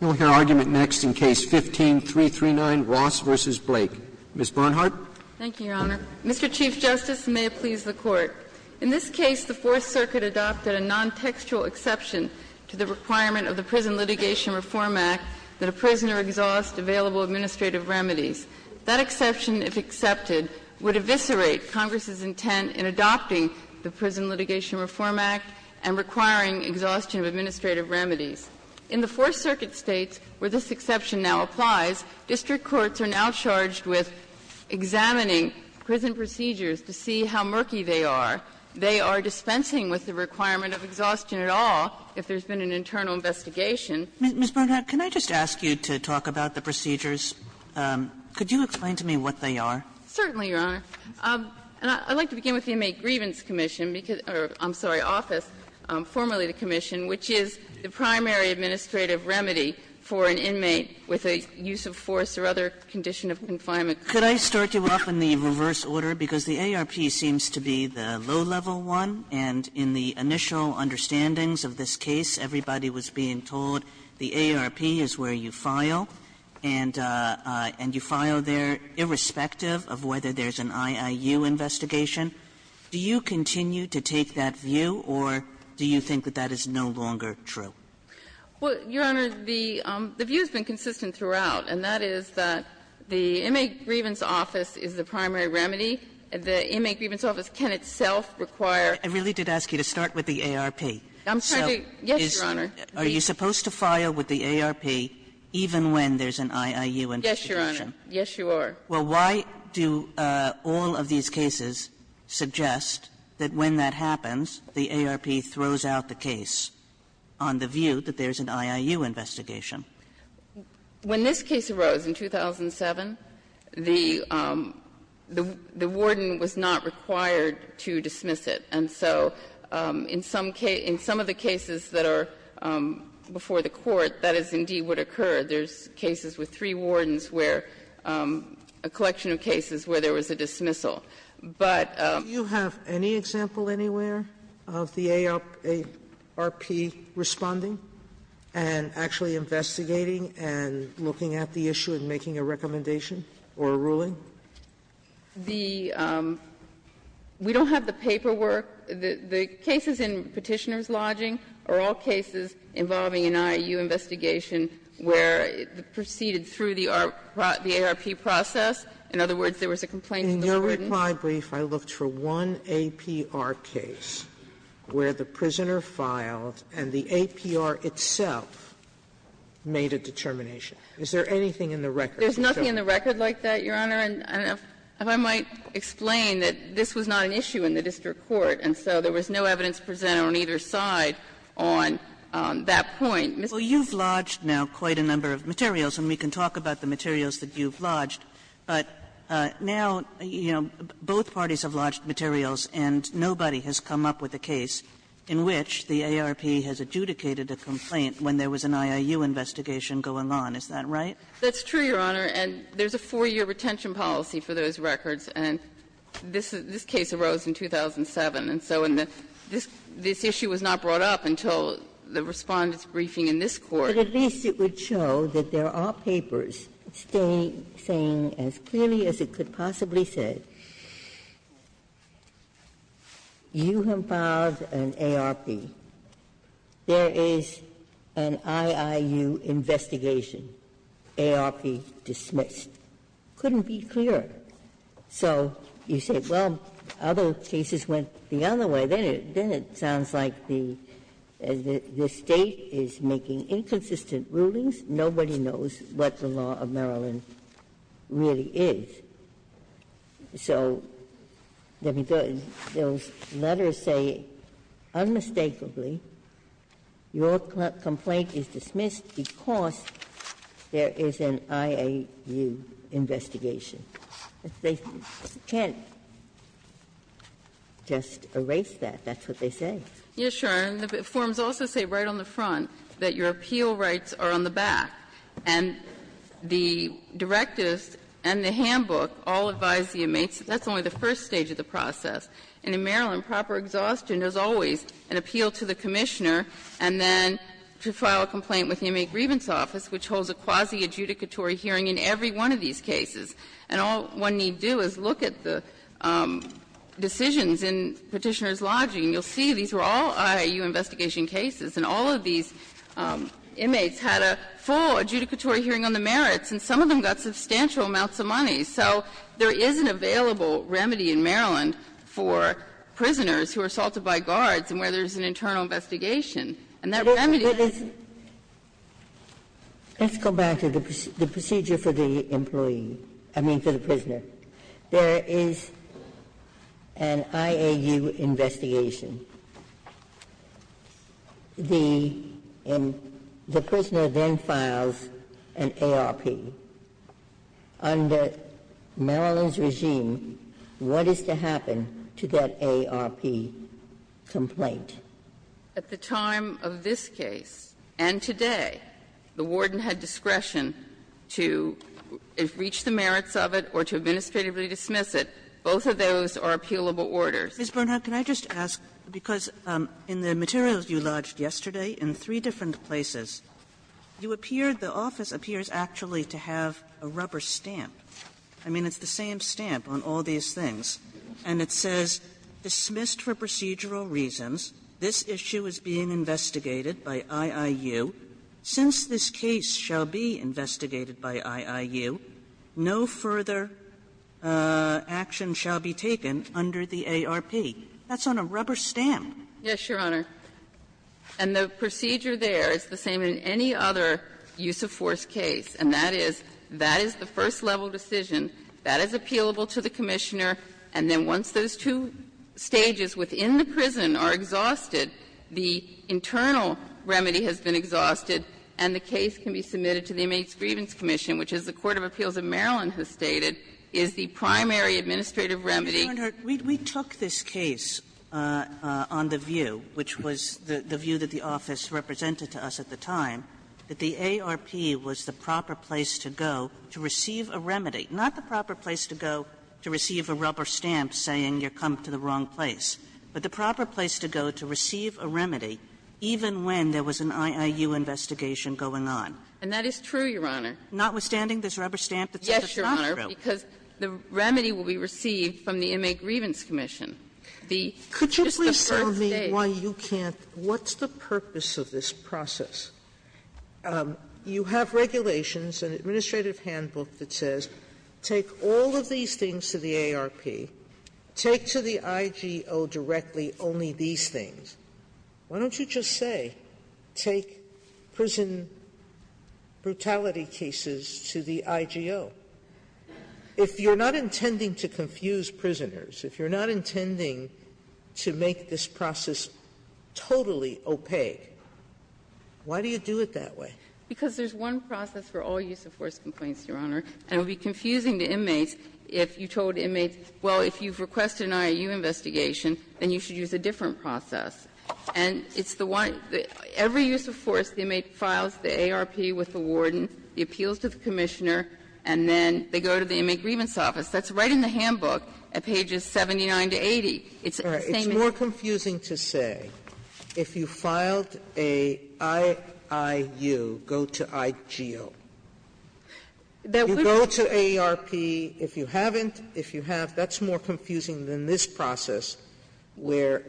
You will hear argument next in Case No. 15-339, Ross v. Blake. Ms. Bernhardt. Thank you, Your Honor. Mr. Chief Justice, and may it please the Court. In this case, the Fourth Circuit adopted a nontextual exception to the requirement of the Prison Litigation Reform Act that a prisoner exhaust available administrative remedies. That exception, if accepted, would eviscerate Congress's intent in adopting the Prison Litigation Reform Act and requiring exhaustion of administrative remedies. In the Fourth Circuit States, where this exception now applies, district courts are now charged with examining prison procedures to see how murky they are. They are dispensing with the requirement of exhaustion at all if there's been an internal investigation. Ms. Bernhardt, can I just ask you to talk about the procedures? Could you explain to me what they are? Certainly, Your Honor. I'd like to begin with the Inmate Grievance Commission, or I'm sorry, Office, formerly the commission, which is the primary administrative remedy for an inmate with a use of force or other condition of confinement. Could I start you off in the reverse order? Because the AARP seems to be the low-level one, and in the initial understandings of this case, everybody was being told the AARP is where you file, and you file there irrespective of whether there's an IIU investigation. Do you continue to take that view, or do you think that that is no longer true? Well, Your Honor, the view has been consistent throughout, and that is that the Inmate Grievance Office is the primary remedy. The Inmate Grievance Office can itself require. I really did ask you to start with the AARP. I'm trying to, yes, Your Honor. Are you supposed to file with the AARP even when there's an IIU investigation? Yes, Your Honor. Yes, you are. Well, why do all of these cases suggest that when that happens, the AARP throws out the case on the view that there's an IIU investigation? When this case arose in 2007, the warden was not required to dismiss it. And so in some of the cases that are before the Court, that is indeed what occurred. There's cases with three wardens where a collection of cases where there was a dismissal. But Do you have any example anywhere of the AARP responding and actually investigating and looking at the issue and making a recommendation or a ruling? The we don't have the paperwork. The cases in Petitioner's Lodging are all cases involving an IIU investigation where it proceeded through the AARP process. In other words, there was a complaint from the warden. In your reply brief, I looked for one APR case where the prisoner filed and the APR itself made a determination. Is there anything in the record? There's nothing in the record like that, Your Honor. And if I might explain that this was not an issue in the district court, and so there was no evidence presented on either side on that point. Well, you've lodged now quite a number of materials, and we can talk about the materials that you've lodged. But now, you know, both parties have lodged materials, and nobody has come up with a case in which the AARP has adjudicated a complaint when there was an IIU investigation going on. Is that right? That's true, Your Honor, and there's a 4-year retention policy for those records. And this case arose in 2007, and so this issue was not brought up until the Respondent's testimony in this Court. But at least it would show that there are papers saying as clearly as it could possibly say, you have filed an AARP, there is an IIU investigation, AARP dismissed. It couldn't be clearer. So you say, well, other cases went the other way. Well, then it sounds like the State is making inconsistent rulings. Nobody knows what the law of Maryland really is. So those letters say unmistakably, your complaint is dismissed because there is an IIU investigation. They can't just erase that. That's what they say. Yes, Your Honor. And the forms also say right on the front that your appeal rights are on the back. And the directives and the handbook all advise the inmates that that's only the first stage of the process. And in Maryland, proper exhaustion is always an appeal to the commissioner and then to file a complaint with the Inmate Grievance Office, which holds a quasi-adjudicatory hearing in every one of these cases. And all one need do is look at the decisions in Petitioner's Lodging. You'll see these were all IIU investigation cases, and all of these inmates had a full adjudicatory hearing on the merits, and some of them got substantial amounts of money. So there is an available remedy in Maryland for prisoners who are assaulted by guards and where there is an internal investigation. And that remedy is the same. I mean, for the prisoner. There is an IAU investigation. The prisoner then files an ARP. Under Maryland's regime, what is to happen to that ARP complaint? At the time of this case and today, the Warden had discretion to reach the merits of it or to administratively dismiss it. Both of those are appealable orders. Kagan. 3 different places, you appeared the office appears actually to have a rubber stamp. I mean, it's the same stamp on all these things, and it says, Dismissed for procedural reasons, this issue is being investigated by IIU. Since this case shall be investigated by IIU, no further action shall be taken under the ARP. That's on a rubber stamp. Yes, Your Honor. And the procedure there is the same in any other use-of-force case, and that is, that is the first-level decision, that is appealable to the commissioner, and then once those two stages within the prison are exhausted, the internal remedy has been exhausted, and the case can be submitted to the Inmates Grievance Commission, which, as the Court of Appeals of Maryland has stated, is the primary administrative remedy. Kagan, we took this case on the view, which was the view that the office represented to us at the time, that the ARP was the proper place to go to receive a remedy, not the proper place to go to receive a rubber stamp saying you've come to the wrong place, but the proper place to go to receive a remedy even when there was an IIU investigation going on. And that is true, Your Honor. Notwithstanding this rubber stamp that's on the crossroad. Yes, Your Honor, because the remedy will be received from the Inmate Grievance Commission. The first stage. Sotomayor, could you please tell me why you can't? What's the purpose of this process? You have regulations, an administrative handbook that says take all of these things to the ARP, take to the IGO directly only these things. Why don't you just say take prison brutality cases to the IGO? If you're not intending to confuse prisoners, if you're not intending to make this process totally opaque, why do you do it that way? Because there's one process for all use of force complaints, Your Honor. And it would be confusing to inmates if you told inmates, well, if you've requested an IOU investigation, then you should use a different process. And it's the one that every use of force, the inmate files the ARP with the warden, the appeals to the commissioner, and then they go to the Inmate Grievance Office. That's right in the handbook at pages 79 to 80. It's the same in the case. Sotomayor, it's more confusing to say, if you filed a IIU, go to IGO. If you go to ARP, if you haven't, if you have, that's more confusing than this process where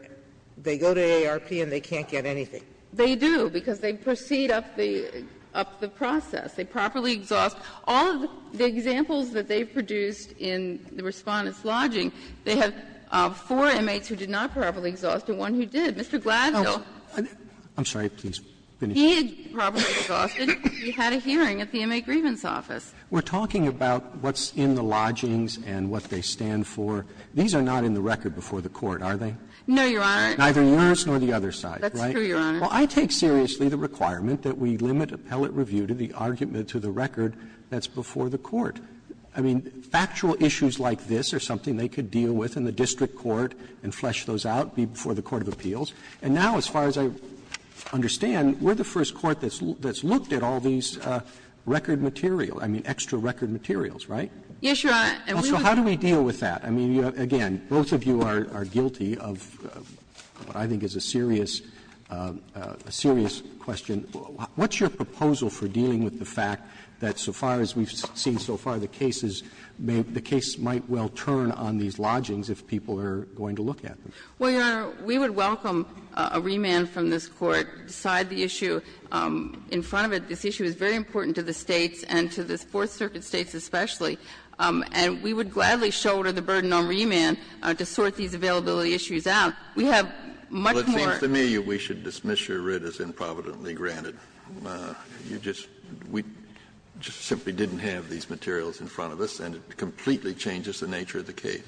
they go to ARP and they can't get anything. They do, because they proceed up the process. They properly exhaust. All of the examples that they've produced in the Respondent's Lodging, they have four inmates who did not properly exhaust and one who did. Mr. Gladwell. Roberts, I'm sorry. Please finish. He had properly exhausted. He had a hearing at the Inmate Grievance Office. We're talking about what's in the lodgings and what they stand for. These are not in the record before the Court, are they? No, Your Honor. Neither yours nor the other side, right? That's true, Your Honor. Well, I take seriously the requirement that we limit appellate review to the argument that's before the Court. I mean, factual issues like this are something they could deal with in the district court and flesh those out before the court of appeals. And now, as far as I understand, we're the first court that's looked at all these record material, I mean, extra record materials, right? Yes, Your Honor. And we would. So how do we deal with that? I mean, again, both of you are guilty of what I think is a serious, a serious question. What's your proposal for dealing with the fact that so far as we've seen so far, the cases may be the case might well turn on these lodgings if people are going to look at them? Well, Your Honor, we would welcome a remand from this Court to decide the issue in front of it. This issue is very important to the States and to the Fourth Circuit States especially. And we would gladly shoulder the burden on remand to sort these availability issues out. We have much more. Well, it seems to me we should dismiss your writ as improvidently granted. You just we just simply didn't have these materials in front of us and it completely changes the nature of the case.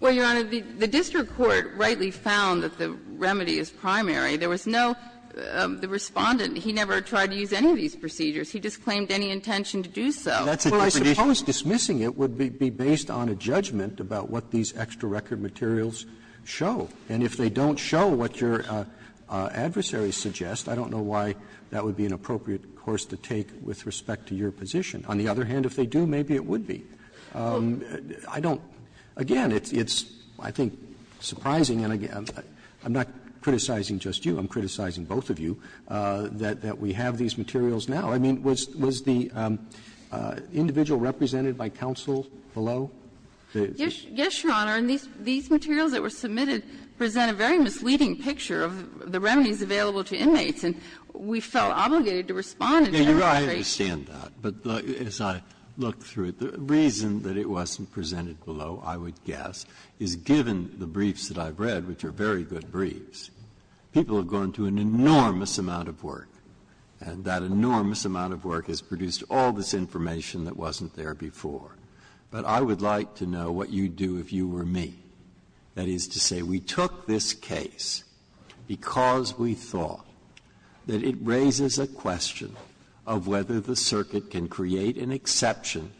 Well, Your Honor, the district court rightly found that the remedy is primary. There was no, the Respondent, he never tried to use any of these procedures. He disclaimed any intention to do so. Well, I suppose dismissing it would be based on a judgment about what these extra record materials show. And if they don't show what your adversary suggests, I don't know why that would be an appropriate course to take with respect to your position. On the other hand, if they do, maybe it would be. I don't, again, it's I think surprising and I'm not criticizing just you. I'm criticizing both of you that we have these materials now. I mean, was the individual represented by counsel below? Yes, Your Honor, and these materials that were submitted present a very misleading picture of the remedies available to inmates, and we felt obligated to respond and demonstrate. Breyer, I understand that, but as I look through it, the reason that it wasn't presented below, I would guess, is given the briefs that I've read, which are very good briefs, people have gone through an enormous amount of work, and that enormous amount of work has produced all this information that wasn't there before. But I would like to know what you'd do if you were me, that is to say, we took this case because we thought that it raises a question of whether the circuit can create an exception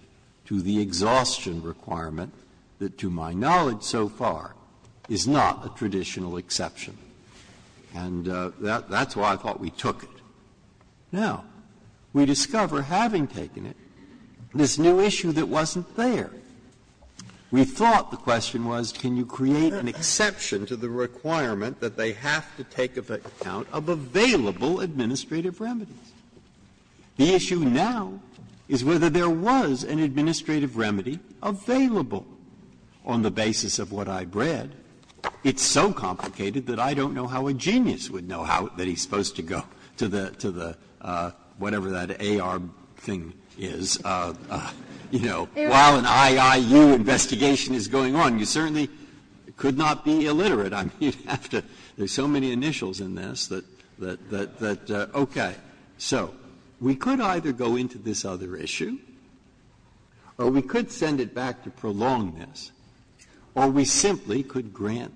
to the exhaustion requirement that, to my knowledge so far, is not a traditional exception. And that's why I thought we took it. Now, we discover, having taken it, this new issue that wasn't there. We thought the question was, can you create an exception to the requirement that they have to take account of available administrative remedies? The issue now is whether there was an administrative remedy available on the basis of what I read. It's so complicated that I don't know how a genius would know how that he's supposed to go to the, to the, whatever that AR thing is, you know, while an IIU investigation is going on. You certainly could not be illiterate. I mean, you'd have to do so many initials in this that, that, that, okay. So we could either go into this other issue, or we could send it back to prolong this, or we simply could grant,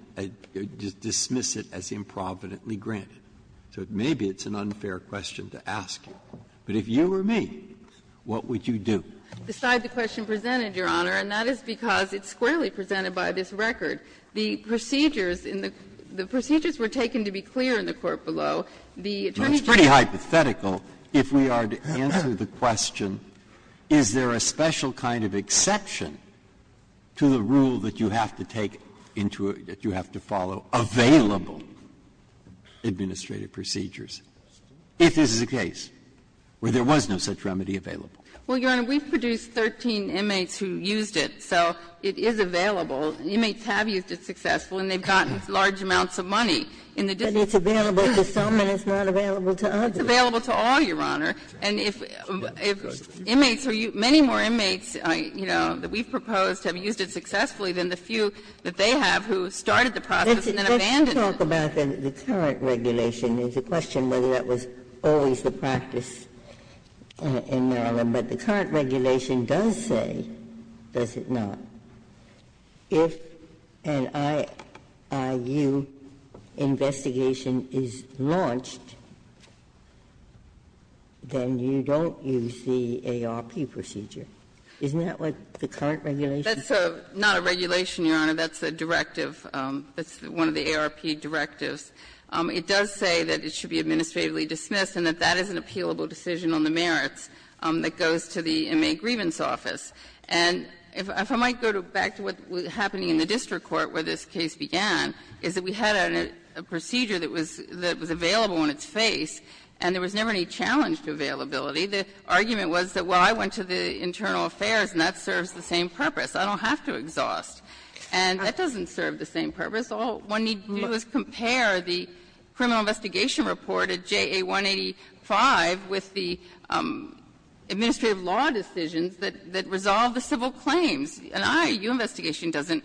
dismiss it as improvidently granted. So maybe it's an unfair question to ask you. But if you were me, what would you do? The side of the question presented, Your Honor, and that is because it's squarely presented by this record. The procedures in the, the procedures were taken to be clear in the court below. The attorney general. It's pretty hypothetical. If we are to answer the question, is there a special kind of exception to the rule that you have to take into a, that you have to follow available administrative procedures if this is a case where there was no such remedy available? Well, Your Honor, we've produced 13 inmates who used it, so it is available. Inmates have used it successfully, and they've gotten large amounts of money in the district. But it's available to some, and it's not available to others. It's available to all, Your Honor. And if, if inmates are used, many more inmates, you know, that we've proposed have used it successfully than the few that they have who started the process and then abandoned it. Ginsburg. Let's talk about the current regulation. There's a question whether that was always the practice in Maryland. But the current regulation does say, does it not, if an IIU investigation is launched, then you don't use the ARP procedure. Isn't that what the current regulation says? That's not a regulation, Your Honor. That's a directive. That's one of the ARP directives. It does say that it should be administratively dismissed and that that is an appealable decision on the merits that goes to the Inmate Grievance Office. And if I might go back to what was happening in the district court where this case began, is that we had a procedure that was available on its face, and there was never any challenge to availability. The argument was that, well, I went to the internal affairs, and that serves the same purpose. I don't have to exhaust. And that doesn't serve the same purpose. All one needs to do is compare the criminal investigation report at JA 185 with the administrative law decisions that resolve the civil claims. An IIU investigation doesn't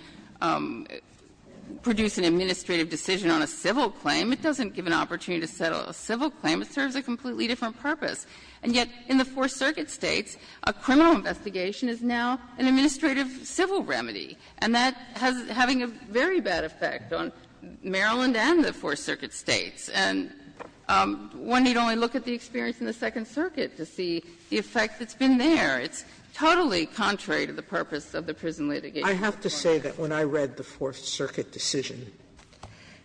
produce an administrative decision on a civil claim. It doesn't give an opportunity to settle a civil claim. It serves a completely different purpose. And yet, in the Fourth Circuit States, a criminal investigation is now an administrative civil remedy, and that has been having a very bad effect on Maryland and the Fourth Circuit States. And one need only look at the experience in the Second Circuit to see the effect that's been there. It's totally contrary to the purpose of the prison litigation. Sotomayor, I have to say that when I read the Fourth Circuit decision,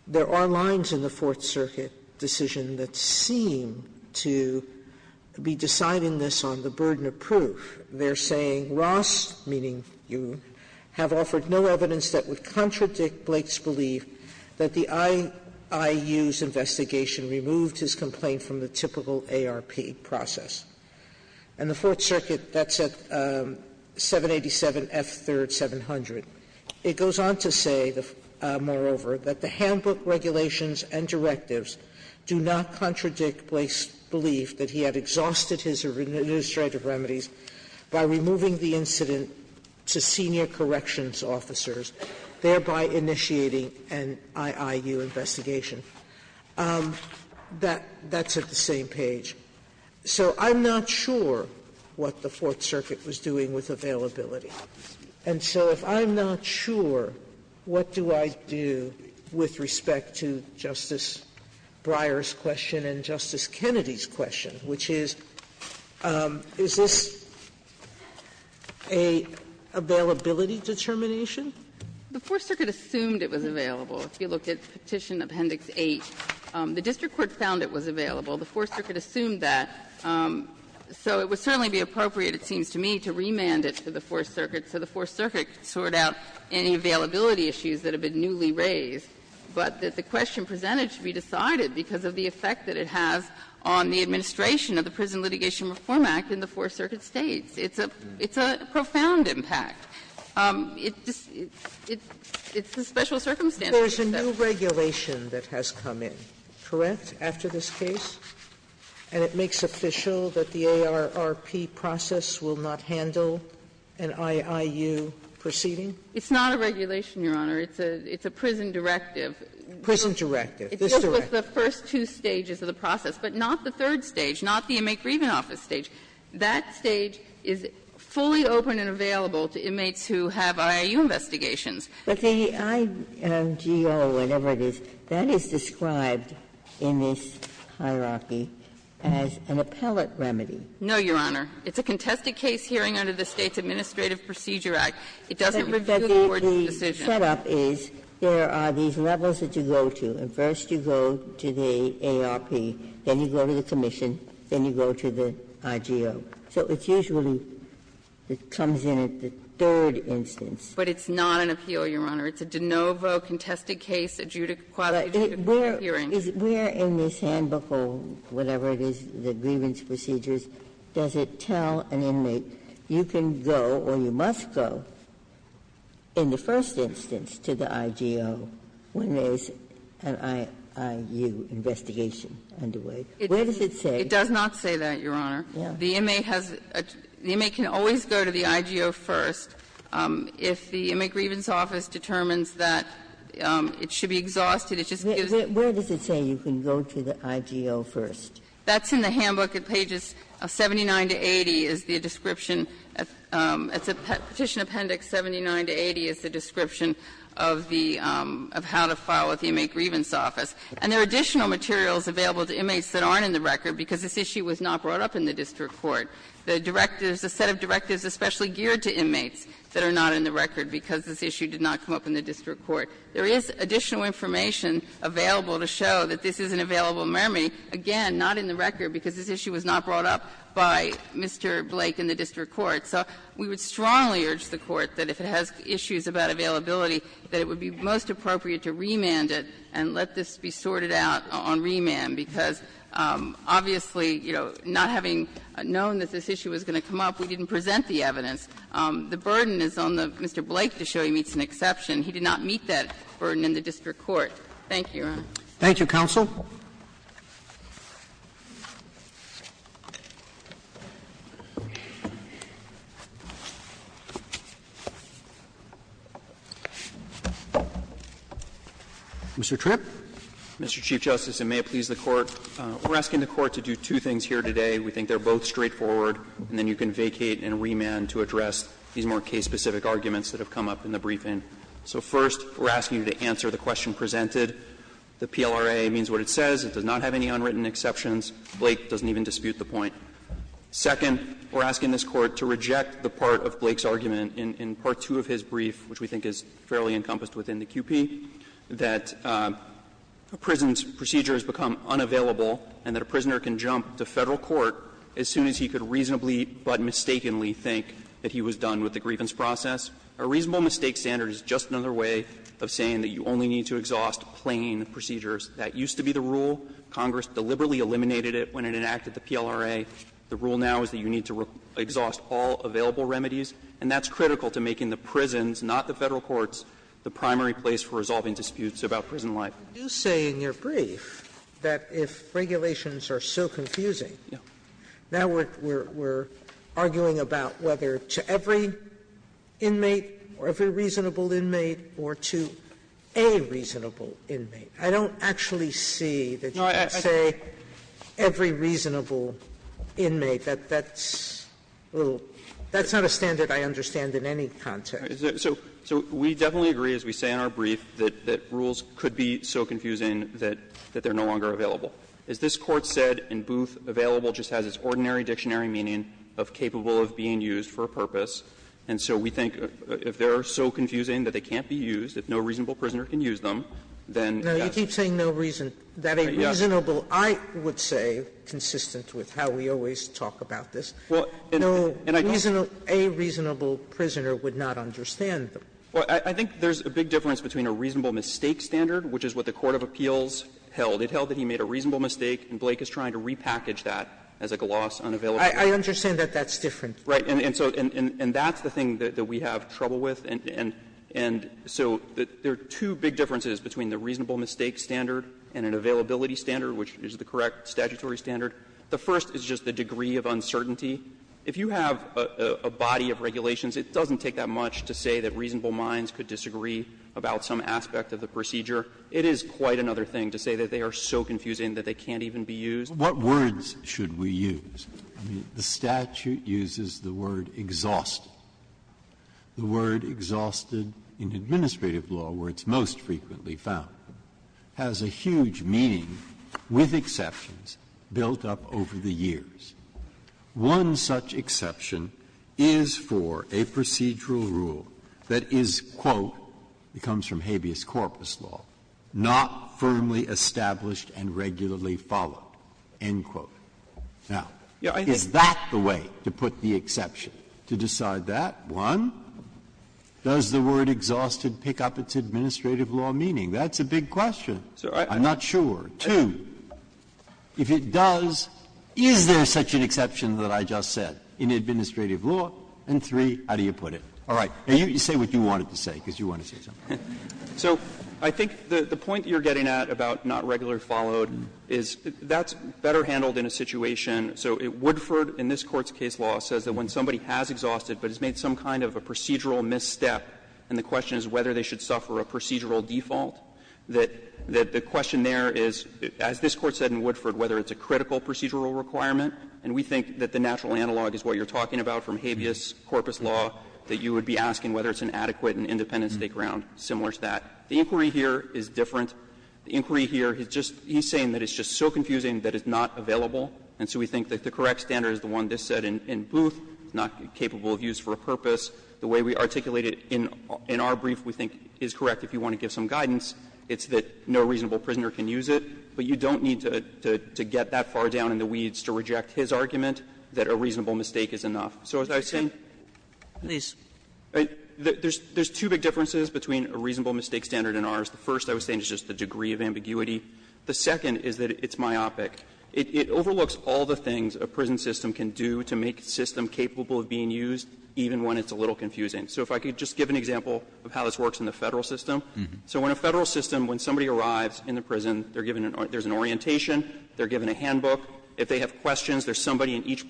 there are lines in the Fourth Circuit decision that seem to be deciding this on the burden of proof. They're saying, "... Ross, meaning you, have offered no evidence that would contradict Blake's belief that the IIU's investigation removed his complaint from the typical ARP process." And the Fourth Circuit, that's at 787 F. 3rd. 700. It goes on to say, moreover, that "... the handbook regulations and directives do not contradict Blake's belief that he had exhausted his administrative remedies by removing the incident to senior corrections officers, thereby initiating an IIU investigation." That's at the same page. So I'm not sure what the Fourth Circuit was doing with availability. And so if I'm not sure, what do I do with respect to Justice Breyer's question and Justice Kennedy's question, which is, is this a availability determination? The Fourth Circuit assumed it was available. If you look at Petition Appendix 8, the district court found it was available. The Fourth Circuit assumed that. So it would certainly be appropriate, it seems to me, to remand it to the Fourth Circuit so the Fourth Circuit could sort out any availability issues that have been newly raised, but that the question presented should be decided because of the effect that it has on the administration of the Prison Litigation Reform Act in the Fourth Circuit States. It's a profound impact. It's a special circumstance. Sotomayor's a new regulation that has come in, correct, after this case? And it makes official that the ARRP process will not handle an IIU proceeding? It's not a regulation, Your Honor. It's a prison directive. Prison directive. It's just the first two stages of the process, but not the third stage, not the inmate grieving office stage. That stage is fully open and available to inmates who have IIU investigations. But the IMGO, whatever it is, that is described in this hierarchy as an appellate remedy. No, Your Honor. It's a contested case hearing under the States Administrative Procedure Act. It doesn't review the Court's decision. But the set-up is there are these levels that you go to, and first you go to the ARP, then you go to the commission, then you go to the IGO. So it's usually, it comes in at the third instance. But it's not an appeal, Your Honor. It's a de novo contested case, a quality judicial hearing. But where in this handbook or whatever it is, the grievance procedures, does it tell an inmate, you can go or you must go in the first instance to the IGO when there is an IIU investigation underway? Where does it say? It does not say that, Your Honor. The inmate has a – the inmate can always go to the IGO first if the inmate has a grievance. If the inmate grievance office determines that it should be exhausted, it just gives it to the IGO first. Where does it say you can go to the IGO first? That's in the handbook at pages 79 to 80 is the description. It's a Petition Appendix 79 to 80 is the description of the – of how to file at the inmate grievance office. And there are additional materials available to inmates that aren't in the record because this issue was not brought up in the district court. The directives, a set of directives especially geared to inmates that are not in the record because this issue did not come up in the district court. There is additional information available to show that this is an available mermaid, again, not in the record because this issue was not brought up by Mr. Blake in the district court. So we would strongly urge the Court that if it has issues about availability that it would be most appropriate to remand it and let this be sorted out on remand, because obviously, you know, not having known that this issue was going to come up, we didn't present the evidence. The burden is on the – Mr. Blake to show he meets an exception. He did not meet that burden in the district court. Thank you, Your Honor. Roberts. Thank you, counsel. Mr. Tripp. Mr. Chief Justice, and may it please the Court, we're asking the Court to do two things here today. We think they're both straightforward, and then you can vacate and remand to address these more case-specific arguments that have come up in the briefing. So first, we're asking you to answer the question presented. The PLRA means what it says. It does not have any unwritten exceptions. Blake doesn't even dispute the point. Second, we're asking this Court to reject the part of Blake's argument in part two of his brief, which we think is fairly encompassed within the QP, that a prison's procedure has become unavailable and that a prisoner can jump to Federal court as soon as he could reasonably but mistakenly think that he was done with the grievance process. A reasonable mistake standard is just another way of saying that you only need to exhaust plain procedures. That used to be the rule. Congress deliberately eliminated it when it enacted the PLRA. The rule now is that you need to exhaust all available remedies, and that's critical to making the prisons, not the Federal courts, the primary place for resolving disputes about prison life. Sotomayor, you say in your brief that if regulations are so confusing, now we're arguing about whether to every inmate or every reasonable inmate or to a reasonable inmate. I don't actually see that you would say every reasonable inmate. That's a little – that's not a standard I understand in any context. So we definitely agree, as we say in our brief, that rules could be so confusing that they're no longer available. As this Court said in Booth, available just has its ordinary dictionary meaning of capable of being used for a purpose, and so we think if they're so confusing that they can't be used, if no reasonable prisoner can use them, then yes. Sotomayor, you keep saying no reason, that a reasonable, I would say, consistent with how we always talk about this, no reasonable – a reasonable prisoner would not understand them. Well, I think there's a big difference between a reasonable mistake standard, which is what the court of appeals held. It held that he made a reasonable mistake, and Blake is trying to repackage that as a gloss unavailability. I understand that that's different. Right. And so – and that's the thing that we have trouble with, and so there are two big differences between a reasonable mistake standard and an availability standard, which is the correct statutory standard. The first is just the degree of uncertainty. If you have a body of regulations, it doesn't take that much to say that reasonable minds could disagree about some aspect of the procedure. It is quite another thing to say that they are so confusing that they can't even be used. Breyer. What words should we use? I mean, the statute uses the word exhausted, the word exhausted in administrative law where it's most frequently found, has a huge meaning with exceptions built up over the years. One such exception is for a procedural rule that is, quote, it comes from habeas corpus law, not firmly established and regularly followed, end quote. Now, is that the way to put the exception, to decide that? One, does the word exhausted pick up its administrative law meaning? That's a big question. I'm not sure. Two, if it does, is there such an exception that I just said in administrative law? And three, how do you put it? All right. You say what you wanted to say, because you want to say something. So I think the point you're getting at about not regularly followed is that's better handled in a situation. So Woodford, in this Court's case law, says that when somebody has exhausted it, but has made some kind of a procedural misstep, and the question is whether they should suffer a procedural default, that the question there is, as this Court said in Woodford, whether it's a critical procedural requirement, and we think that the natural analog is what you're talking about from habeas corpus law, that you would be asking whether it's an adequate and independent state ground, similar to that. The inquiry here is different. The inquiry here is just he's saying that it's just so confusing that it's not available. And so we think that the correct standard is the one that's said in Booth, not capable of use for a purpose, the way we articulate it in our brief, we think, is correct if you want to give some guidance. It's that no reasonable prisoner can use it, but you don't need to get that far down in the weeds to reject his argument that a reasonable mistake is enough. So as I was saying, there's two big differences between a reasonable mistake standard and ours. The first, I was saying, is just the degree of ambiguity. The second is that it's myopic. It overlooks all the things a prison system can do to make a system capable of being used, even when it's a little confusing. So if I could just give an example of how this works in the Federal system. So in a Federal system, when somebody arrives in the prison, they're given an orientation, they're given a handbook. If they have questions, there's somebody in each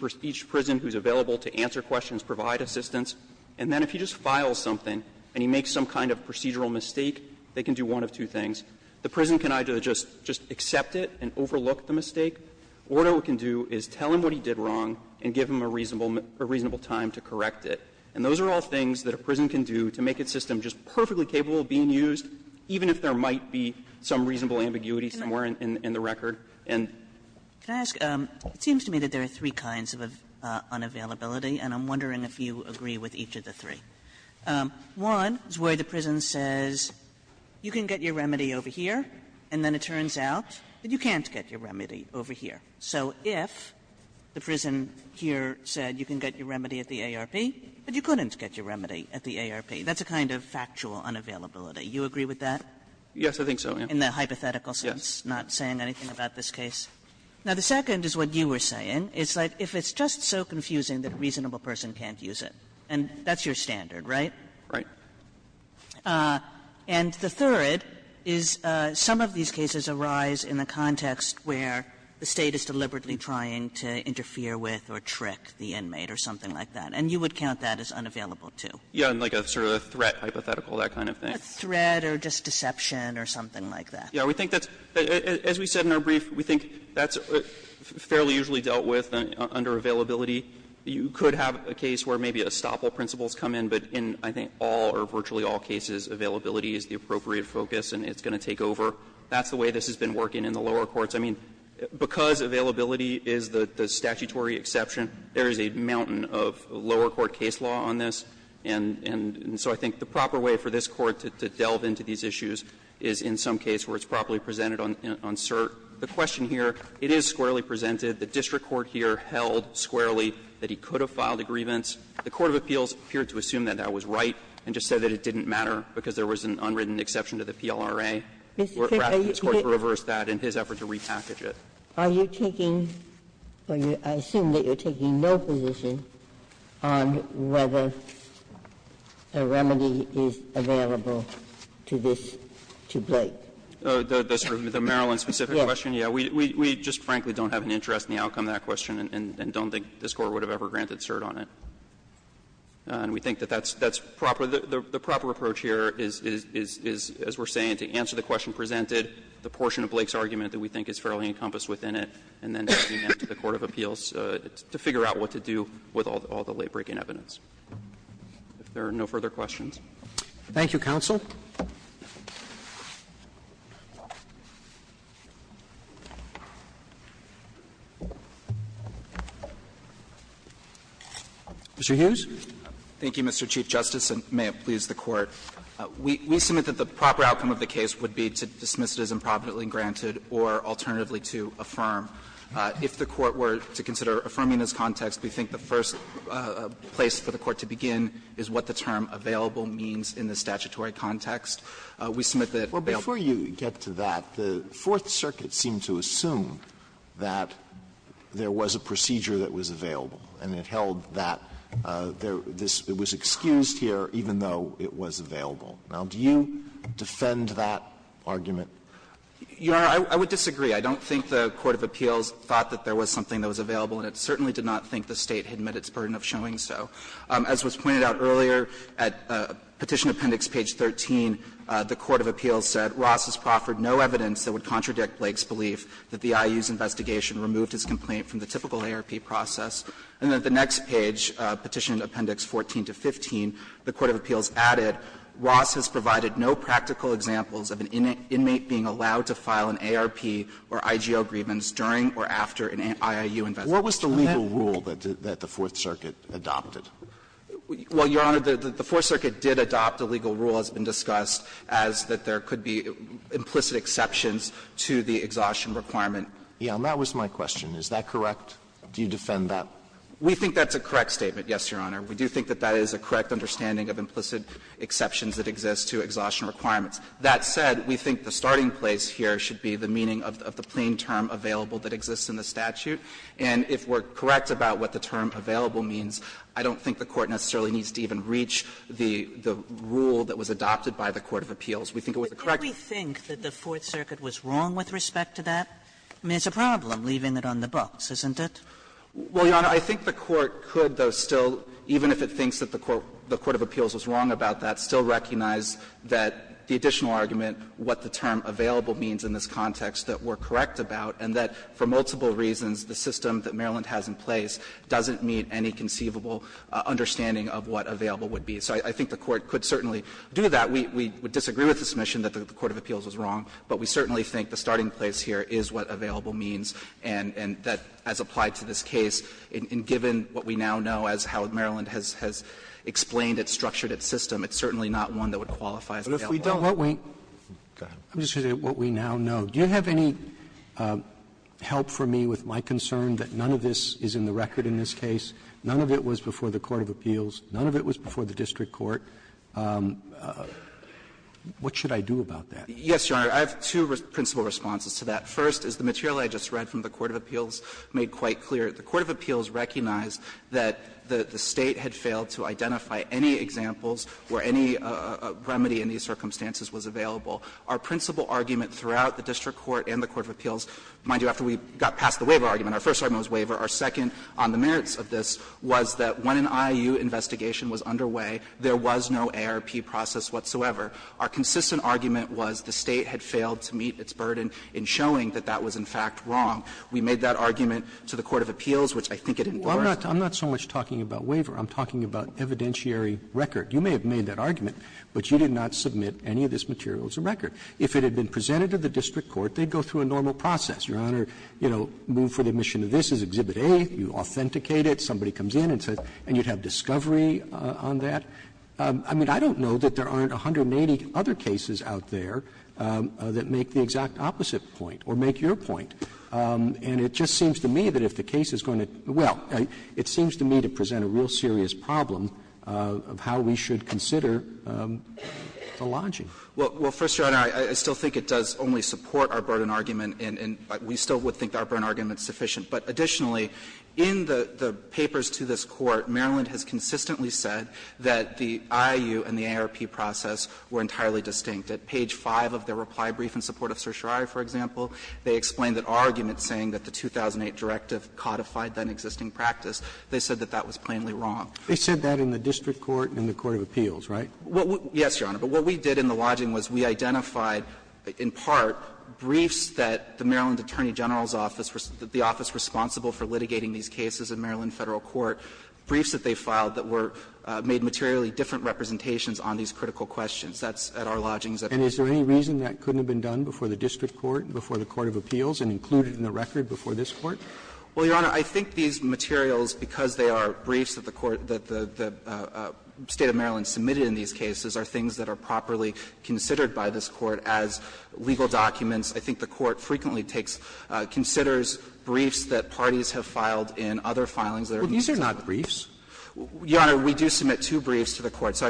prison who's available to answer questions, provide assistance. And then if he just files something and he makes some kind of procedural mistake, they can do one of two things. The prison can either just accept it and overlook the mistake, or what it can do is take a reasonable time to correct it. And those are all things that a prison can do to make its system just perfectly capable of being used, even if there might be some reasonable ambiguity somewhere in the record. And the reason I'm asking this is because it seems to me that there are three kinds of unavailability, and I'm wondering if you agree with each of the three. One is where the prison says, you can get your remedy over here, and then it turns out that you can't get your remedy over here. So if the prison here said you can get your remedy at the ARP, but you couldn't get your remedy at the ARP, that's a kind of factual unavailability. Do you agree with that? Gannon, Yes, I think so, yes. Kagan in the hypothetical sense, not saying anything about this case? Now, the second is what you were saying. It's like if it's just so confusing that a reasonable person can't use it, and that's your standard, right? Gannon, Right. Kagan And the third is some of these cases arise in the context where the State is deliberately trying to interfere with or trick the inmate or something like that. And you would count that as unavailable, too. Gannon, Yes, and like a sort of threat hypothetical, that kind of thing. Kagan A threat or just deception or something like that. Gannon, Yes. We think that's, as we said in our brief, we think that's fairly usually dealt with under availability. You could have a case where maybe a stopple principle has come in, but in, I think, all or virtually all cases, availability is the appropriate focus and it's going to take over. That's the way this has been working in the lower courts. I mean, because availability is the statutory exception, there is a mountain of lower court case law on this. And so I think the proper way for this Court to delve into these issues is in some case where it's properly presented on cert. The question here, it is squarely presented. The district court here held squarely that he could have filed a grievance. The court of appeals appeared to assume that that was right and just said that it didn't matter because there was an unwritten exception to the PLRA. We're asking this Court to reverse that in his effort to repackage it. Ginsburg Are you taking, or I assume that you're taking no position on whether a remedy is available to this, to Blake? The sort of the Maryland-specific question, yeah. We just frankly don't have an interest in the outcome of that question and don't think this Court would have ever granted cert on it. And we think that that's proper. So the proper approach here is, as we're saying, to answer the question presented, the portion of Blake's argument that we think is fairly encompassed within it, and then to the court of appeals to figure out what to do with all the late-breaking evidence. If there are no further questions. Thank you, counsel. Mr. Hughes. Hughes Thank you, Mr. Chief Justice, and may it please the Court. We submit that the proper outcome of the case would be to dismiss it as improvidently granted or alternatively to affirm. If the Court were to consider affirming this context, we think the first place for the Court to begin is what the term available means in the statutory context. We submit that available. Alito Well, before you get to that, the Fourth Circuit seemed to assume that there was a procedure that was available, and it held that this was excused here even though it was available. Now, do you defend that argument? Hughes Your Honor, I would disagree. I don't think the court of appeals thought that there was something that was available, and it certainly did not think the State had met its burden of showing so. As was pointed out earlier, at Petition Appendix page 13, the court of appeals said Ross has proffered no evidence that would contradict Blake's belief that the process, and that the next page, Petition Appendix 14 to 15, the court of appeals added Ross has provided no practical examples of an inmate being allowed to file an ARP or IGO grievance during or after an IIU investigation. Alito What was the legal rule that the Fourth Circuit adopted? Hughes Well, Your Honor, the Fourth Circuit did adopt a legal rule as has been discussed as that there could be implicit exceptions to the exhaustion requirement. Alito Yes, and that was my question. Is that correct? Do you defend that? Hughes We think that's a correct statement, yes, Your Honor. We do think that that is a correct understanding of implicit exceptions that exist to exhaustion requirements. That said, we think the starting place here should be the meaning of the plain term available that exists in the statute. And if we're correct about what the term available means, I don't think the Court necessarily needs to even reach the rule that was adopted by the court of appeals. We think it was the correct. Kagan But can we think that the Fourth Circuit was wrong with respect to that? I mean, it's a problem leaving it on the books, isn't it? Well, Your Honor, I think the Court could, though, still, even if it thinks that the court of appeals was wrong about that, still recognize that the additional argument, what the term available means in this context, that we're correct about, and that for multiple reasons, the system that Maryland has in place doesn't meet any conceivable understanding of what available would be. So I think the Court could certainly do that. We would disagree with the submission that the court of appeals was wrong, but we certainly think the starting place here is what available means, and that as applied to this case, and given what we now know as how Maryland has explained it, structured its system, it's certainly not one that would qualify as available. Roberts I'm just going to say what we now know. Do you have any help for me with my concern that none of this is in the record in this case, none of it was before the court of appeals, none of it was before the district court, what should I do about that? Yes, Your Honor, I have two principal responses to that. First is the material I just read from the court of appeals made quite clear. The court of appeals recognized that the State had failed to identify any examples where any remedy in these circumstances was available. Our principal argument throughout the district court and the court of appeals mind you, after we got past the waiver argument, our first argument was waiver. Our second on the merits of this was that when an I.I.U. investigation was underway, there was no A.R.P. process whatsoever. Our consistent argument was the State had failed to meet its burden in showing that that was in fact wrong. We made that argument to the court of appeals, which I think it endorsed. Roberts I'm not so much talking about waiver. I'm talking about evidentiary record. You may have made that argument, but you did not submit any of this material as a record. If it had been presented to the district court, they'd go through a normal process. Your Honor, you know, move for the admission of this as Exhibit A, you authenticate it, somebody comes in and says, and you'd have discovery on that. I mean, I don't know that there aren't 180 other cases out there that make the exact opposite point or make your point. And it just seems to me that if the case is going to go well, it seems to me to present a real serious problem of how we should consider the lodging. Well, first, Your Honor, I still think it does only support our burden argument and we still would think our burden argument is sufficient. But additionally, in the papers to this Court, Maryland has consistently said that the IIU and the AARP process were entirely distinct. At page 5 of their reply brief in support of certiorari, for example, they explained that our argument saying that the 2008 directive codified that existing practice, they said that that was plainly wrong. They said that in the district court and the court of appeals, right? Yes, Your Honor. But what we did in the lodging was we identified, in part, briefs that the Maryland Attorney General's office, the office responsible for litigating these cases in Maryland and in Federal court, briefs that they filed that were made materially different representations on these critical questions. That's at our lodgings. And is there any reason that couldn't have been done before the district court, before the court of appeals, and included in the record before this Court? Well, Your Honor, I think these materials, because they are briefs that the Court that the State of Maryland submitted in these cases, are things that are properly considered by this Court as legal documents. I think the Court frequently takes, considers briefs that parties have filed in other court filings. Well, these are not briefs. Your Honor, we do submit two briefs to the Court. So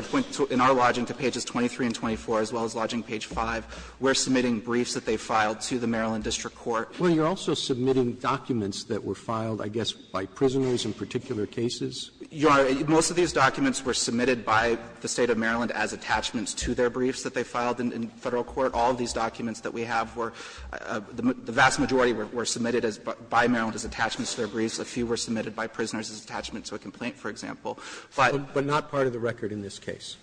in our lodging, to pages 23 and 24, as well as lodging page 5, we are submitting briefs that they filed to the Maryland district court. Well, you are also submitting documents that were filed, I guess, by prisoners in particular cases? Your Honor, most of these documents were submitted by the State of Maryland as attachments to their briefs that they filed in Federal court. All of these documents that we have were the vast majority were submitted by Maryland as attachments to their briefs. A few were submitted by prisoners as attachments to a complaint, for example. But. Roberts But not part of the record in this case?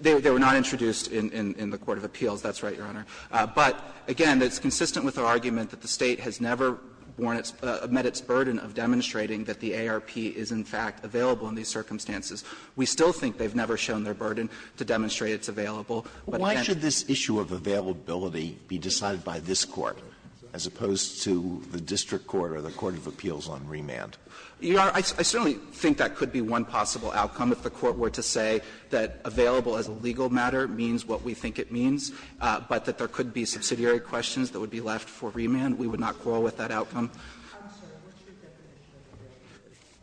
They were not introduced in the court of appeals. That's right, Your Honor. But, again, it's consistent with our argument that the State has never worn its or met its burden of demonstrating that the ARP is in fact available in these circumstances. We still think they have never shown their burden to demonstrate it's available. But again. Alito Why should this issue of availability be decided by this Court as opposed to the district court or the court of appeals on remand? Your Honor, I certainly think that could be one possible outcome if the Court were to say that available as a legal matter means what we think it means, but that there could be subsidiary questions that would be left for remand. We would not quarrel with that outcome.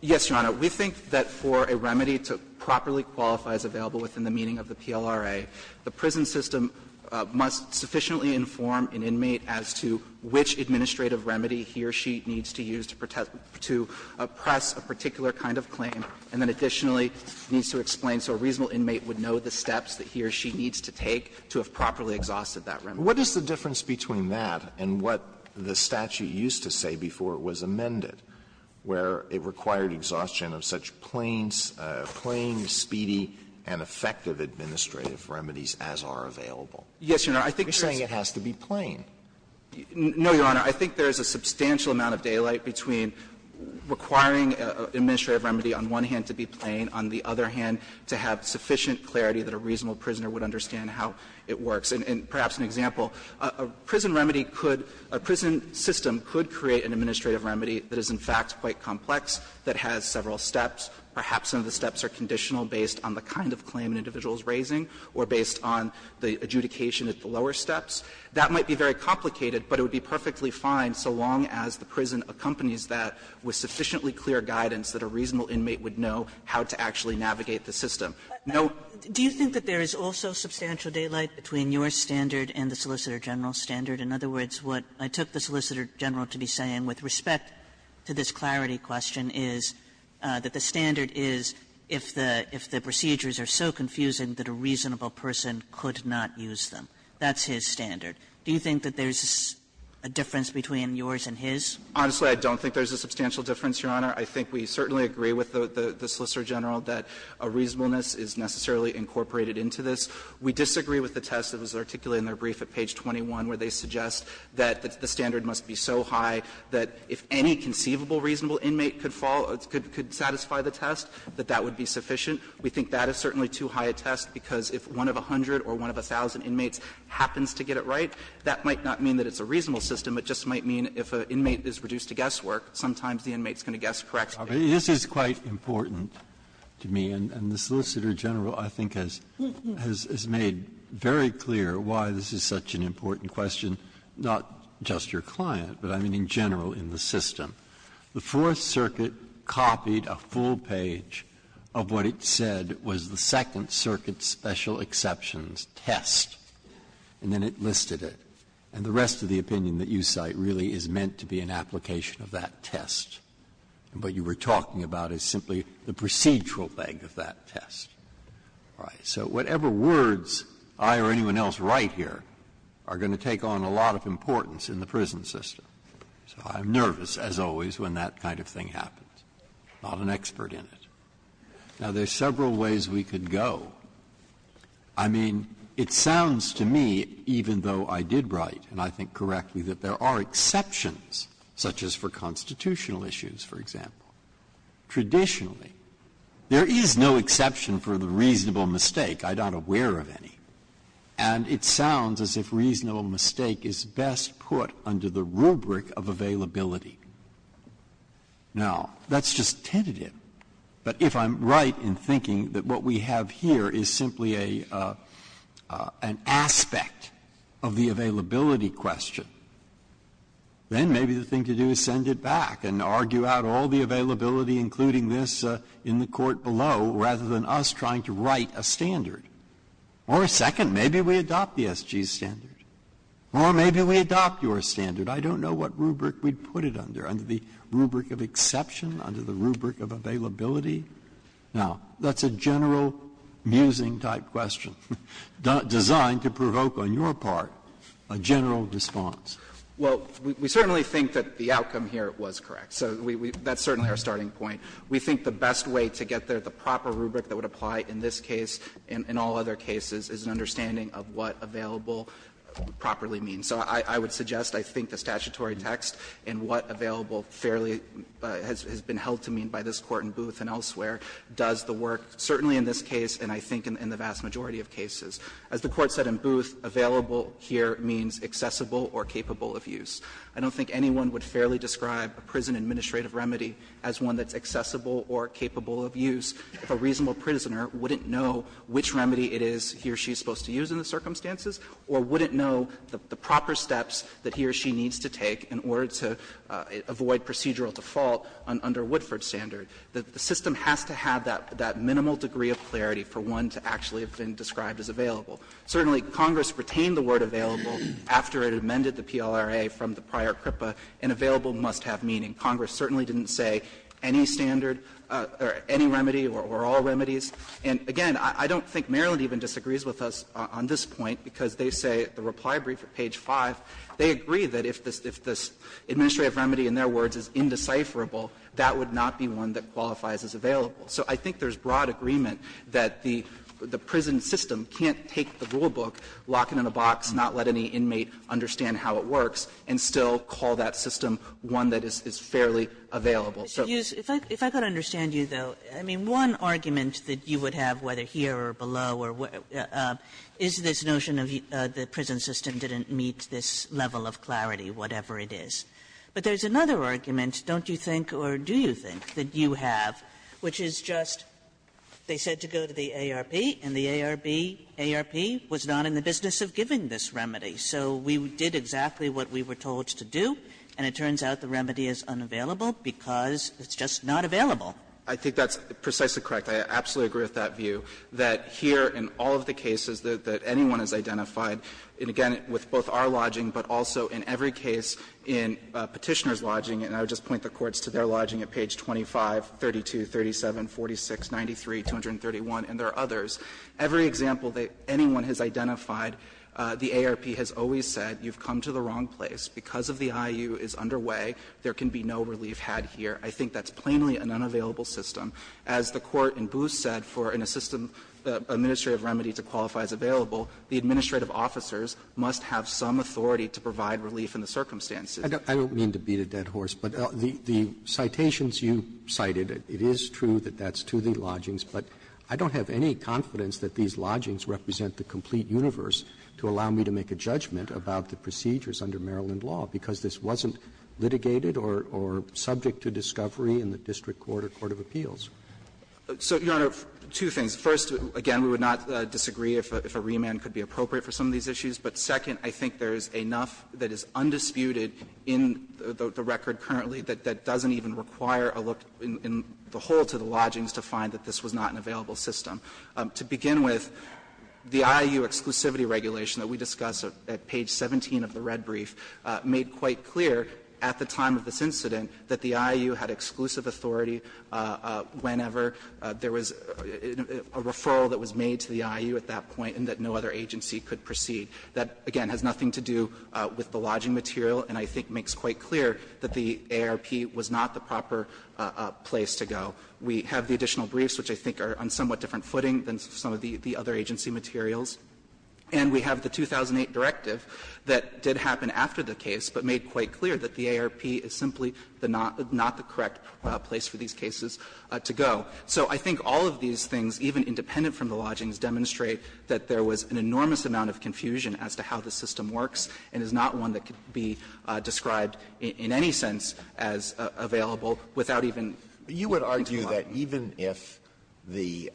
Yes, Your Honor. We think that for a remedy to properly qualify as available within the meaning of the PLRA, the prison system must sufficiently inform an inmate as to which administrative remedy he or she needs to use to oppress a particular kind of claim, and then additionally needs to explain so a reasonable inmate would know the steps that he or she needs to take to have properly exhausted that remedy. What is the difference between that and what the statute used to say before it was amended, where it required exhaustion of such plain, speedy, and effective administrative remedies as are available? Yes, Your Honor, I think that's true. You're saying it has to be plain. No, Your Honor. I think there is a substantial amount of daylight between requiring an administrative remedy on one hand to be plain, on the other hand to have sufficient clarity that a reasonable prisoner would understand how it works. And perhaps an example, a prison remedy could — a prison system could create an administrative remedy that is, in fact, quite complex, that has several steps, perhaps some of the steps are conditional based on the kind of claim an individual is raising or based on the adjudication at the lower steps. That might be very complicated, but it would be perfectly fine so long as the prison accompanies that with sufficiently clear guidance that a reasonable inmate would know how to actually navigate the system. No — Kagan. Do you think that there is also substantial daylight between your standard and the Solicitor General standard? In other words, what I took the Solicitor General to be saying with respect to this clarity question is that the standard is if the procedures are so confusing that a reasonable person could not use them. That's his standard. Do you think that there's a difference between yours and his? Honestly, I don't think there's a substantial difference, Your Honor. I think we certainly agree with the Solicitor General that a reasonableness is necessarily incorporated into this. We disagree with the test that was articulated in their brief at page 21 where they suggest that the standard must be so high that if any conceivable reasonable inmate could fall — could satisfy the test, that that would be sufficient. We think that is certainly too high a test because if one of a hundred or one of a thousand inmates happens to get it right, that might not mean that it's a reasonable system. It just might mean if an inmate is reduced to guesswork, sometimes the inmate is going to guess correctly. Breyer, this is quite important to me, and the Solicitor General, I think, has made very clear why this is such an important question, not just your client, but I mean in general in the system. The Fourth Circuit copied a full page of what it said was the Second Circuit's special exceptions test, and then it listed it. And the rest of the opinion that you cite really is meant to be an application of that test. And what you were talking about is simply the procedural leg of that test. All right. So whatever words I or anyone else write here are going to take on a lot of importance in the prison system. So I'm nervous, as always, when that kind of thing happens. I'm not an expert in it. Now, there are several ways we could go. I mean, it sounds to me, even though I did write, and I think correctly, that there are exceptions, such as for constitutional issues, for example. Traditionally, there is no exception for the reasonable mistake. I'm not aware of any. And it sounds as if reasonable mistake is best put under the rubric of availability. Now, that's just tentative. But if I'm right in thinking that what we have here is simply an aspect of the availability question, then maybe the thing to do is send it back and argue out all the availability, including this in the court below, rather than us trying to write a standard. Or second, maybe we adopt the SG standard. Or maybe we adopt your standard. I don't know what rubric we'd put it under, under the rubric of exception, under the rubric of availability. Now, that's a general musing-type question, designed to provoke on your part a general response. Well, we certainly think that the outcome here was correct. So that's certainly our starting point. We think the best way to get there, the proper rubric that would apply in this case and all other cases, is an understanding of what available properly means. So I would suggest, I think, the statutory text and what available fairly has been held to mean by this Court in Booth and elsewhere does the work, certainly in this case and I think in the vast majority of cases. As the Court said in Booth, available here means accessible or capable of use. I don't think anyone would fairly describe a prison administrative remedy as one that's accessible or capable of use if a reasonable prisoner wouldn't know which remedy it is he or she is supposed to use in the circumstances or wouldn't know the proper steps that he or she needs to take in order to avoid procedural default under Woodford's standard. The system has to have that minimal degree of clarity for one to actually have been described as available. Certainly, Congress retained the word available after it amended the PLRA from the prior CRIPA, and available must have meaning. Congress certainly didn't say any standard or any remedy or all remedies. And again, I don't think Maryland even disagrees with us on this point because they say at the reply brief at page 5, they agree that if this administrative remedy, in their words, is indecipherable, that would not be one that qualifies as available. So I think there's broad agreement that the prison system can't take the rulebook, lock it in a box, not let any inmate understand how it works, and still call that system one that is fairly available. Kaganriadis If I could understand you, though, I mean, one argument that you would have, whether here or below or where, is this notion of the prison system didn't meet this level of clarity, whatever it is. But there's another argument, don't you think, or do you think, that you have, which is just they said to go to the ARP and the ARB, ARP was not in the business of giving this remedy, so we did exactly what we were told to do, and it turns out the remedy is unavailable because it's just not available? I think that's precisely correct. I absolutely agree with that view, that here in all of the cases that anyone has identified, and again, with both our lodging, but also in every case in Petitioner's lodging, and I would just point the courts to their lodging at page 25, 32, 37, 46, 93, 231, and there are others. Every example that anyone has identified, the ARP has always said, you've come to the wrong place, there can be no relief had here. I think that's plainly an unavailable system. As the Court in Booth said, for an administrative remedy to qualify as available, the administrative officers must have some authority to provide relief in the circumstances. Roberts, I don't mean to beat a dead horse, but the citations you cited, it is true that that's to the lodgings, but I don't have any confidence that these lodgings represent the complete universe to allow me to make a judgment about the procedures under Maryland law, because this wasn't litigated or subject to discovery in the district court or court of appeals. So, Your Honor, two things. First, again, we would not disagree if a remand could be appropriate for some of these issues. But second, I think there is enough that is undisputed in the record currently that doesn't even require a look in the whole to the lodgings to find that this was not an available system. To begin with, the IAU exclusivity regulation that we discuss at page 17 of the Red Cross brief made quite clear at the time of this incident that the IAU had exclusive authority whenever there was a referral that was made to the IAU at that point and that no other agency could proceed. That, again, has nothing to do with the lodging material, and I think makes quite clear that the ARP was not the proper place to go. We have the additional briefs, which I think are on somewhat different footing than some of the other agency materials. And we have the 2008 directive that did happen after the case, but made quite clear that the ARP is simply the not the correct place for these cases to go. So I think all of these things, even independent from the lodgings, demonstrate that there was an enormous amount of confusion as to how the system works and is not one that could be described in any sense as available without even looking too hard. Alito, I just want to say that even if the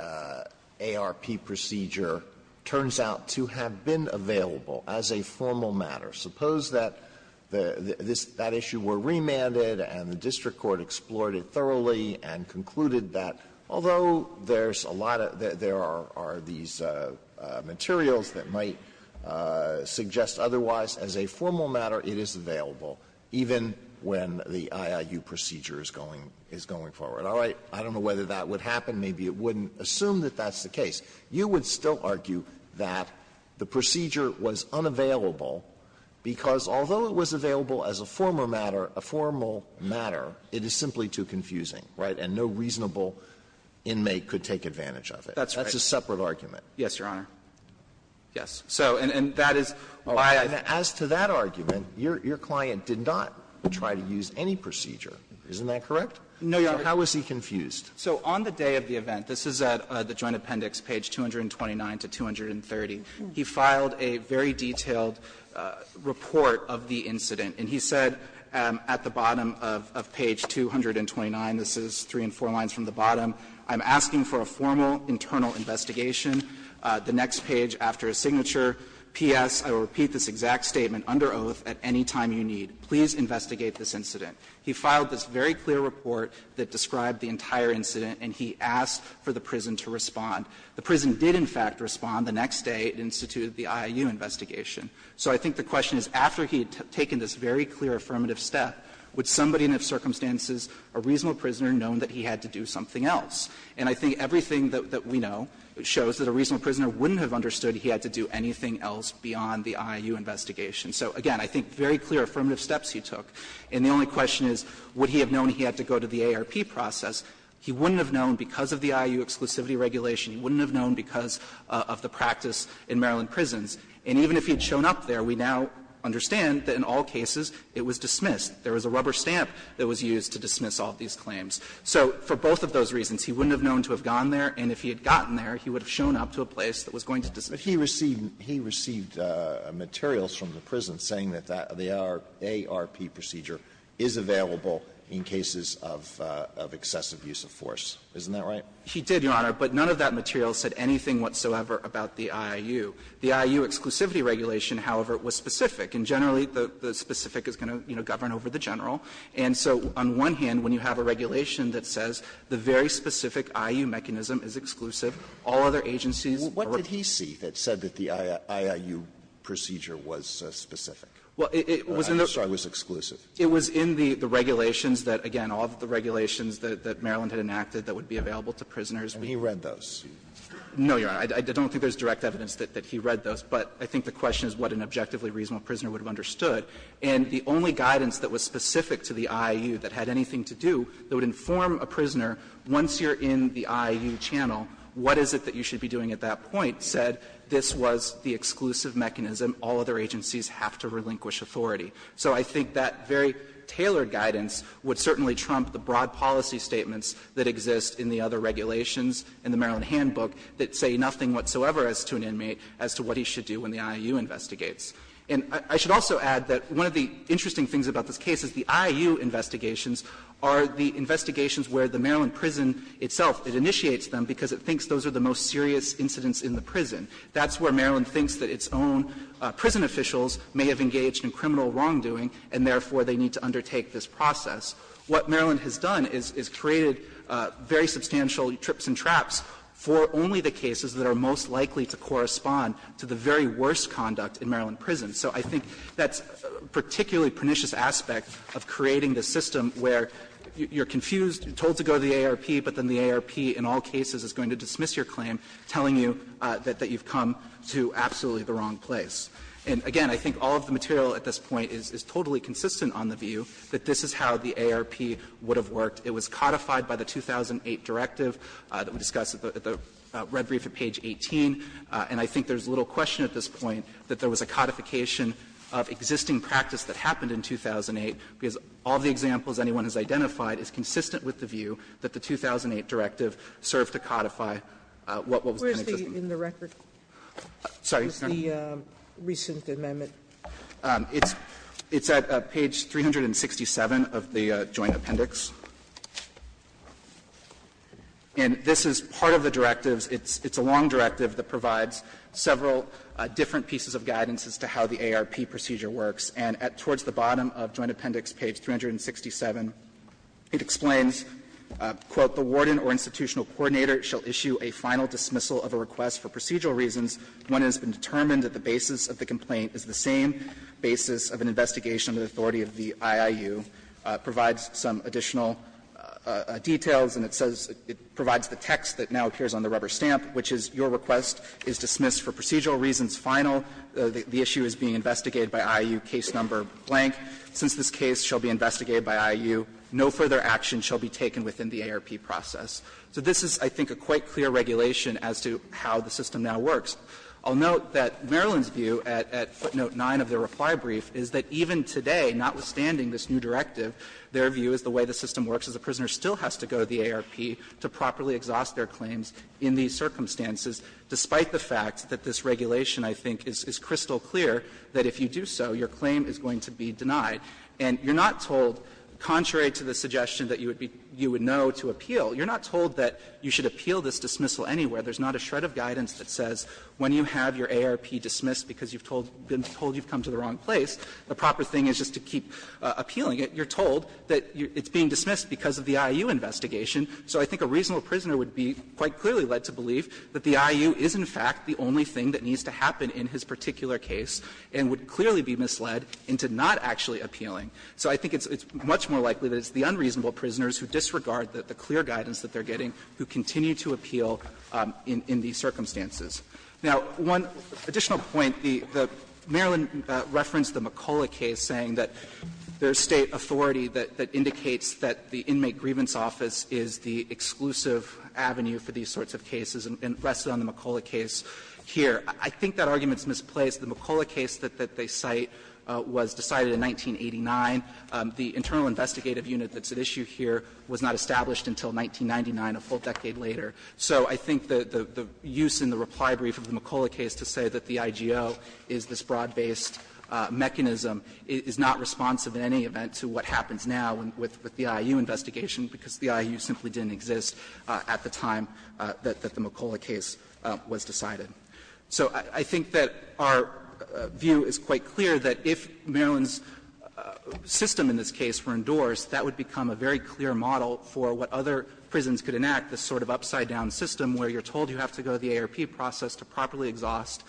ARP procedure turns out to have been available as a formal matter, suppose that the issue were remanded and the district court explored it thoroughly and concluded that, although there's a lot of there are these materials that might suggest otherwise, as a formal matter, it is available even when the IAU procedure is going forward. All right. I don't know whether that would happen. Maybe it wouldn't. Assume that that's the case. You would still argue that the procedure was unavailable because, although it was available as a former matter, a formal matter, it is simply too confusing, right? And no reasonable inmate could take advantage of it. That's a separate argument. Yes, Your Honor. Yes. So, and that is why I think as to that argument, your client did not try to use any procedure. Isn't that correct? No, Your Honor. How is he confused? So on the day of the event, this is at the Joint Appendix, page 229 to 230, he filed a very detailed report of the incident. And he said at the bottom of page 229, this is three and four lines from the bottom, I'm asking for a formal internal investigation. The next page, after a signature, P.S., I will repeat this exact statement under oath at any time you need. Please investigate this incident. He filed this very clear report that described the entire incident, and he asked for the prison to respond. The prison did, in fact, respond the next day and instituted the I.I.U. investigation. So I think the question is, after he had taken this very clear affirmative step, would somebody in those circumstances, a reasonable prisoner, known that he had to do something else? And I think everything that we know shows that a reasonable prisoner wouldn't have understood he had to do anything else beyond the I.I.U. investigation. So, again, I think very clear affirmative steps he took. And the only question is, would he have known he had to go to the ARP process? He wouldn't have known because of the I.I.U. exclusivity regulation. He wouldn't have known because of the practice in Maryland prisons. And even if he had shown up there, we now understand that in all cases it was dismissed. There was a rubber stamp that was used to dismiss all of these claims. So for both of those reasons, he wouldn't have known to have gone there, and if he had gotten there, he would have shown up to a place that was going to dismiss him. Alitoso, but he received materials from the prison saying that the ARP procedure is available in cases of excessive use of force. Isn't that right? He did, Your Honor, but none of that material said anything whatsoever about the I.I.U. The I.I.U. exclusivity regulation, however, was specific, and generally the specific is going to, you know, govern over the general. And so on one hand, when you have a regulation that says the very specific I.U. mechanism is exclusive, all other agencies are. Alitoso, what did he see that said that the I.I.U. procedure was specific? Well, it was in the. I'm sorry, it was exclusive. It was in the regulations that, again, all of the regulations that Maryland had enacted that would be available to prisoners. And he read those. No, Your Honor. I don't think there's direct evidence that he read those, but I think the question is what an objectively reasonable prisoner would have understood. And the only guidance that was specific to the I.I.U. that had anything to do that would inform a prisoner, once you're in the I.I.U. channel, what is it that you should be doing at that point, said this was the exclusive mechanism, all other agencies have to relinquish authority. So I think that very tailored guidance would certainly trump the broad policy statements that exist in the other regulations in the Maryland Handbook that say nothing whatsoever as to an inmate as to what he should do when the I.I.U. investigates. And I should also add that one of the interesting things about this case is the I.I.U. investigations are the investigations where the Maryland prison itself, it initiates them because it thinks those are the most serious incidents in the prison. That's where Maryland thinks that its own prison officials may have engaged in criminal wrongdoing, and therefore they need to undertake this process. What Maryland has done is created very substantial trips and traps for only the cases that are most likely to correspond to the very worst conduct in Maryland prisons. So I think that's a particularly pernicious aspect of creating the system where you're confused, you're told to go to the AARP, but then the AARP in all cases is going to dismiss your claim, telling you that you've come to absolutely the wrong place. And again, I think all of the material at this point is totally consistent on the view that this is how the AARP would have worked. It was codified by the 2008 directive that we discussed at the red brief at page 18, and I think there's little question at this point that there was a codification of existing practice that happened in 2008, because all the examples anyone has identified is consistent with the view that the 2008 directive served to codify what was in the record. Sotomayor, where is the recent amendment? It's at page 367 of the joint appendix. And this is part of the directives. It's a long directive that provides several different pieces of guidance as to how the AARP procedure works. And at towards the bottom of joint appendix, page 367, it explains, quote, the warden or institutional coordinator shall issue a final dismissal of a request for procedural reasons when it has been determined that the basis of the complaint is the same basis of an investigation of the authority of the IIU, provides some additional details, and it says it provides the text that now appears on the rubber stamp, which is your request is dismissed for procedural reasons, final, the issue is being investigated by IIU, case number blank. Since this case shall be investigated by IIU, no further action shall be taken within the AARP process. So this is, I think, a quite clear regulation as to how the system now works. I'll note that Maryland's view at footnote 9 of their reply brief is that even today, notwithstanding this new directive, their view is the way the system works is a prisoner still has to go to the AARP to properly exhaust their claims in these circumstances, despite the fact that this regulation, I think, is crystal clear that if you do so, your claim is going to be denied. And you're not told, contrary to the suggestion that you would know to appeal, you're not told that you should appeal this dismissal anywhere. There's not a shred of guidance that says when you have your AARP dismissed because you've been told you've come to the wrong place, the proper thing is just to keep appealing it. You're told that it's being dismissed because of the IIU investigation. So I think a reasonable prisoner would be quite clearly led to believe that the IIU is, in fact, the only thing that needs to happen in his particular case and would clearly be misled into not actually appealing. So I think it's much more likely that it's the unreasonable prisoners who disregard the clear guidance that they're getting who continue to appeal in these circumstances. Now, one additional point, the Maryland referenced the McCulloch case saying that there's State authority that indicates that the Inmate Grievance Office is the exclusive avenue for these sorts of cases and rested on the McCulloch case here. I think that argument is misplaced. The McCulloch case that they cite was decided in 1989. The internal investigative unit that's at issue here was not established until 1999, a full decade later. So I think the use in the reply brief of the McCulloch case to say that the IGO is this broad-based mechanism is not responsive in any event to what happens now with the IIU investigation, because the IIU simply didn't exist at the time that the McCulloch case was decided. So I think that our view is quite clear that if Maryland's system in this case were endorsed, that would become a very clear model for what other prisons could enact, this sort of upside-down system where you're told you have to go to the AARP process to properly exhaust.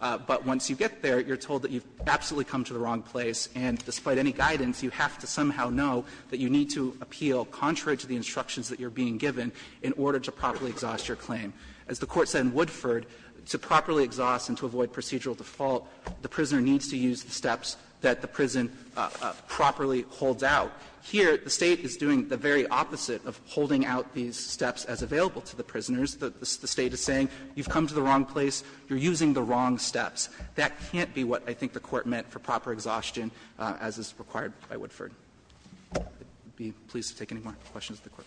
But once you get there, you're told that you've absolutely come to the wrong place, and despite any guidance, you have to somehow know that you need to appeal contrary to the instructions that you're being given in order to properly exhaust your claim. As the Court said in Woodford, to properly exhaust and to avoid procedural default, the prisoner needs to use the steps that the prison properly holds out. Here, the State is doing the very opposite of holding out these steps as available to the prisoners. The State is saying you've come to the wrong place, you're using the wrong steps. That can't be what I think the Court meant for proper exhaustion as is required by Woodford. I'd be pleased to take any more questions the Court might have. Roberts.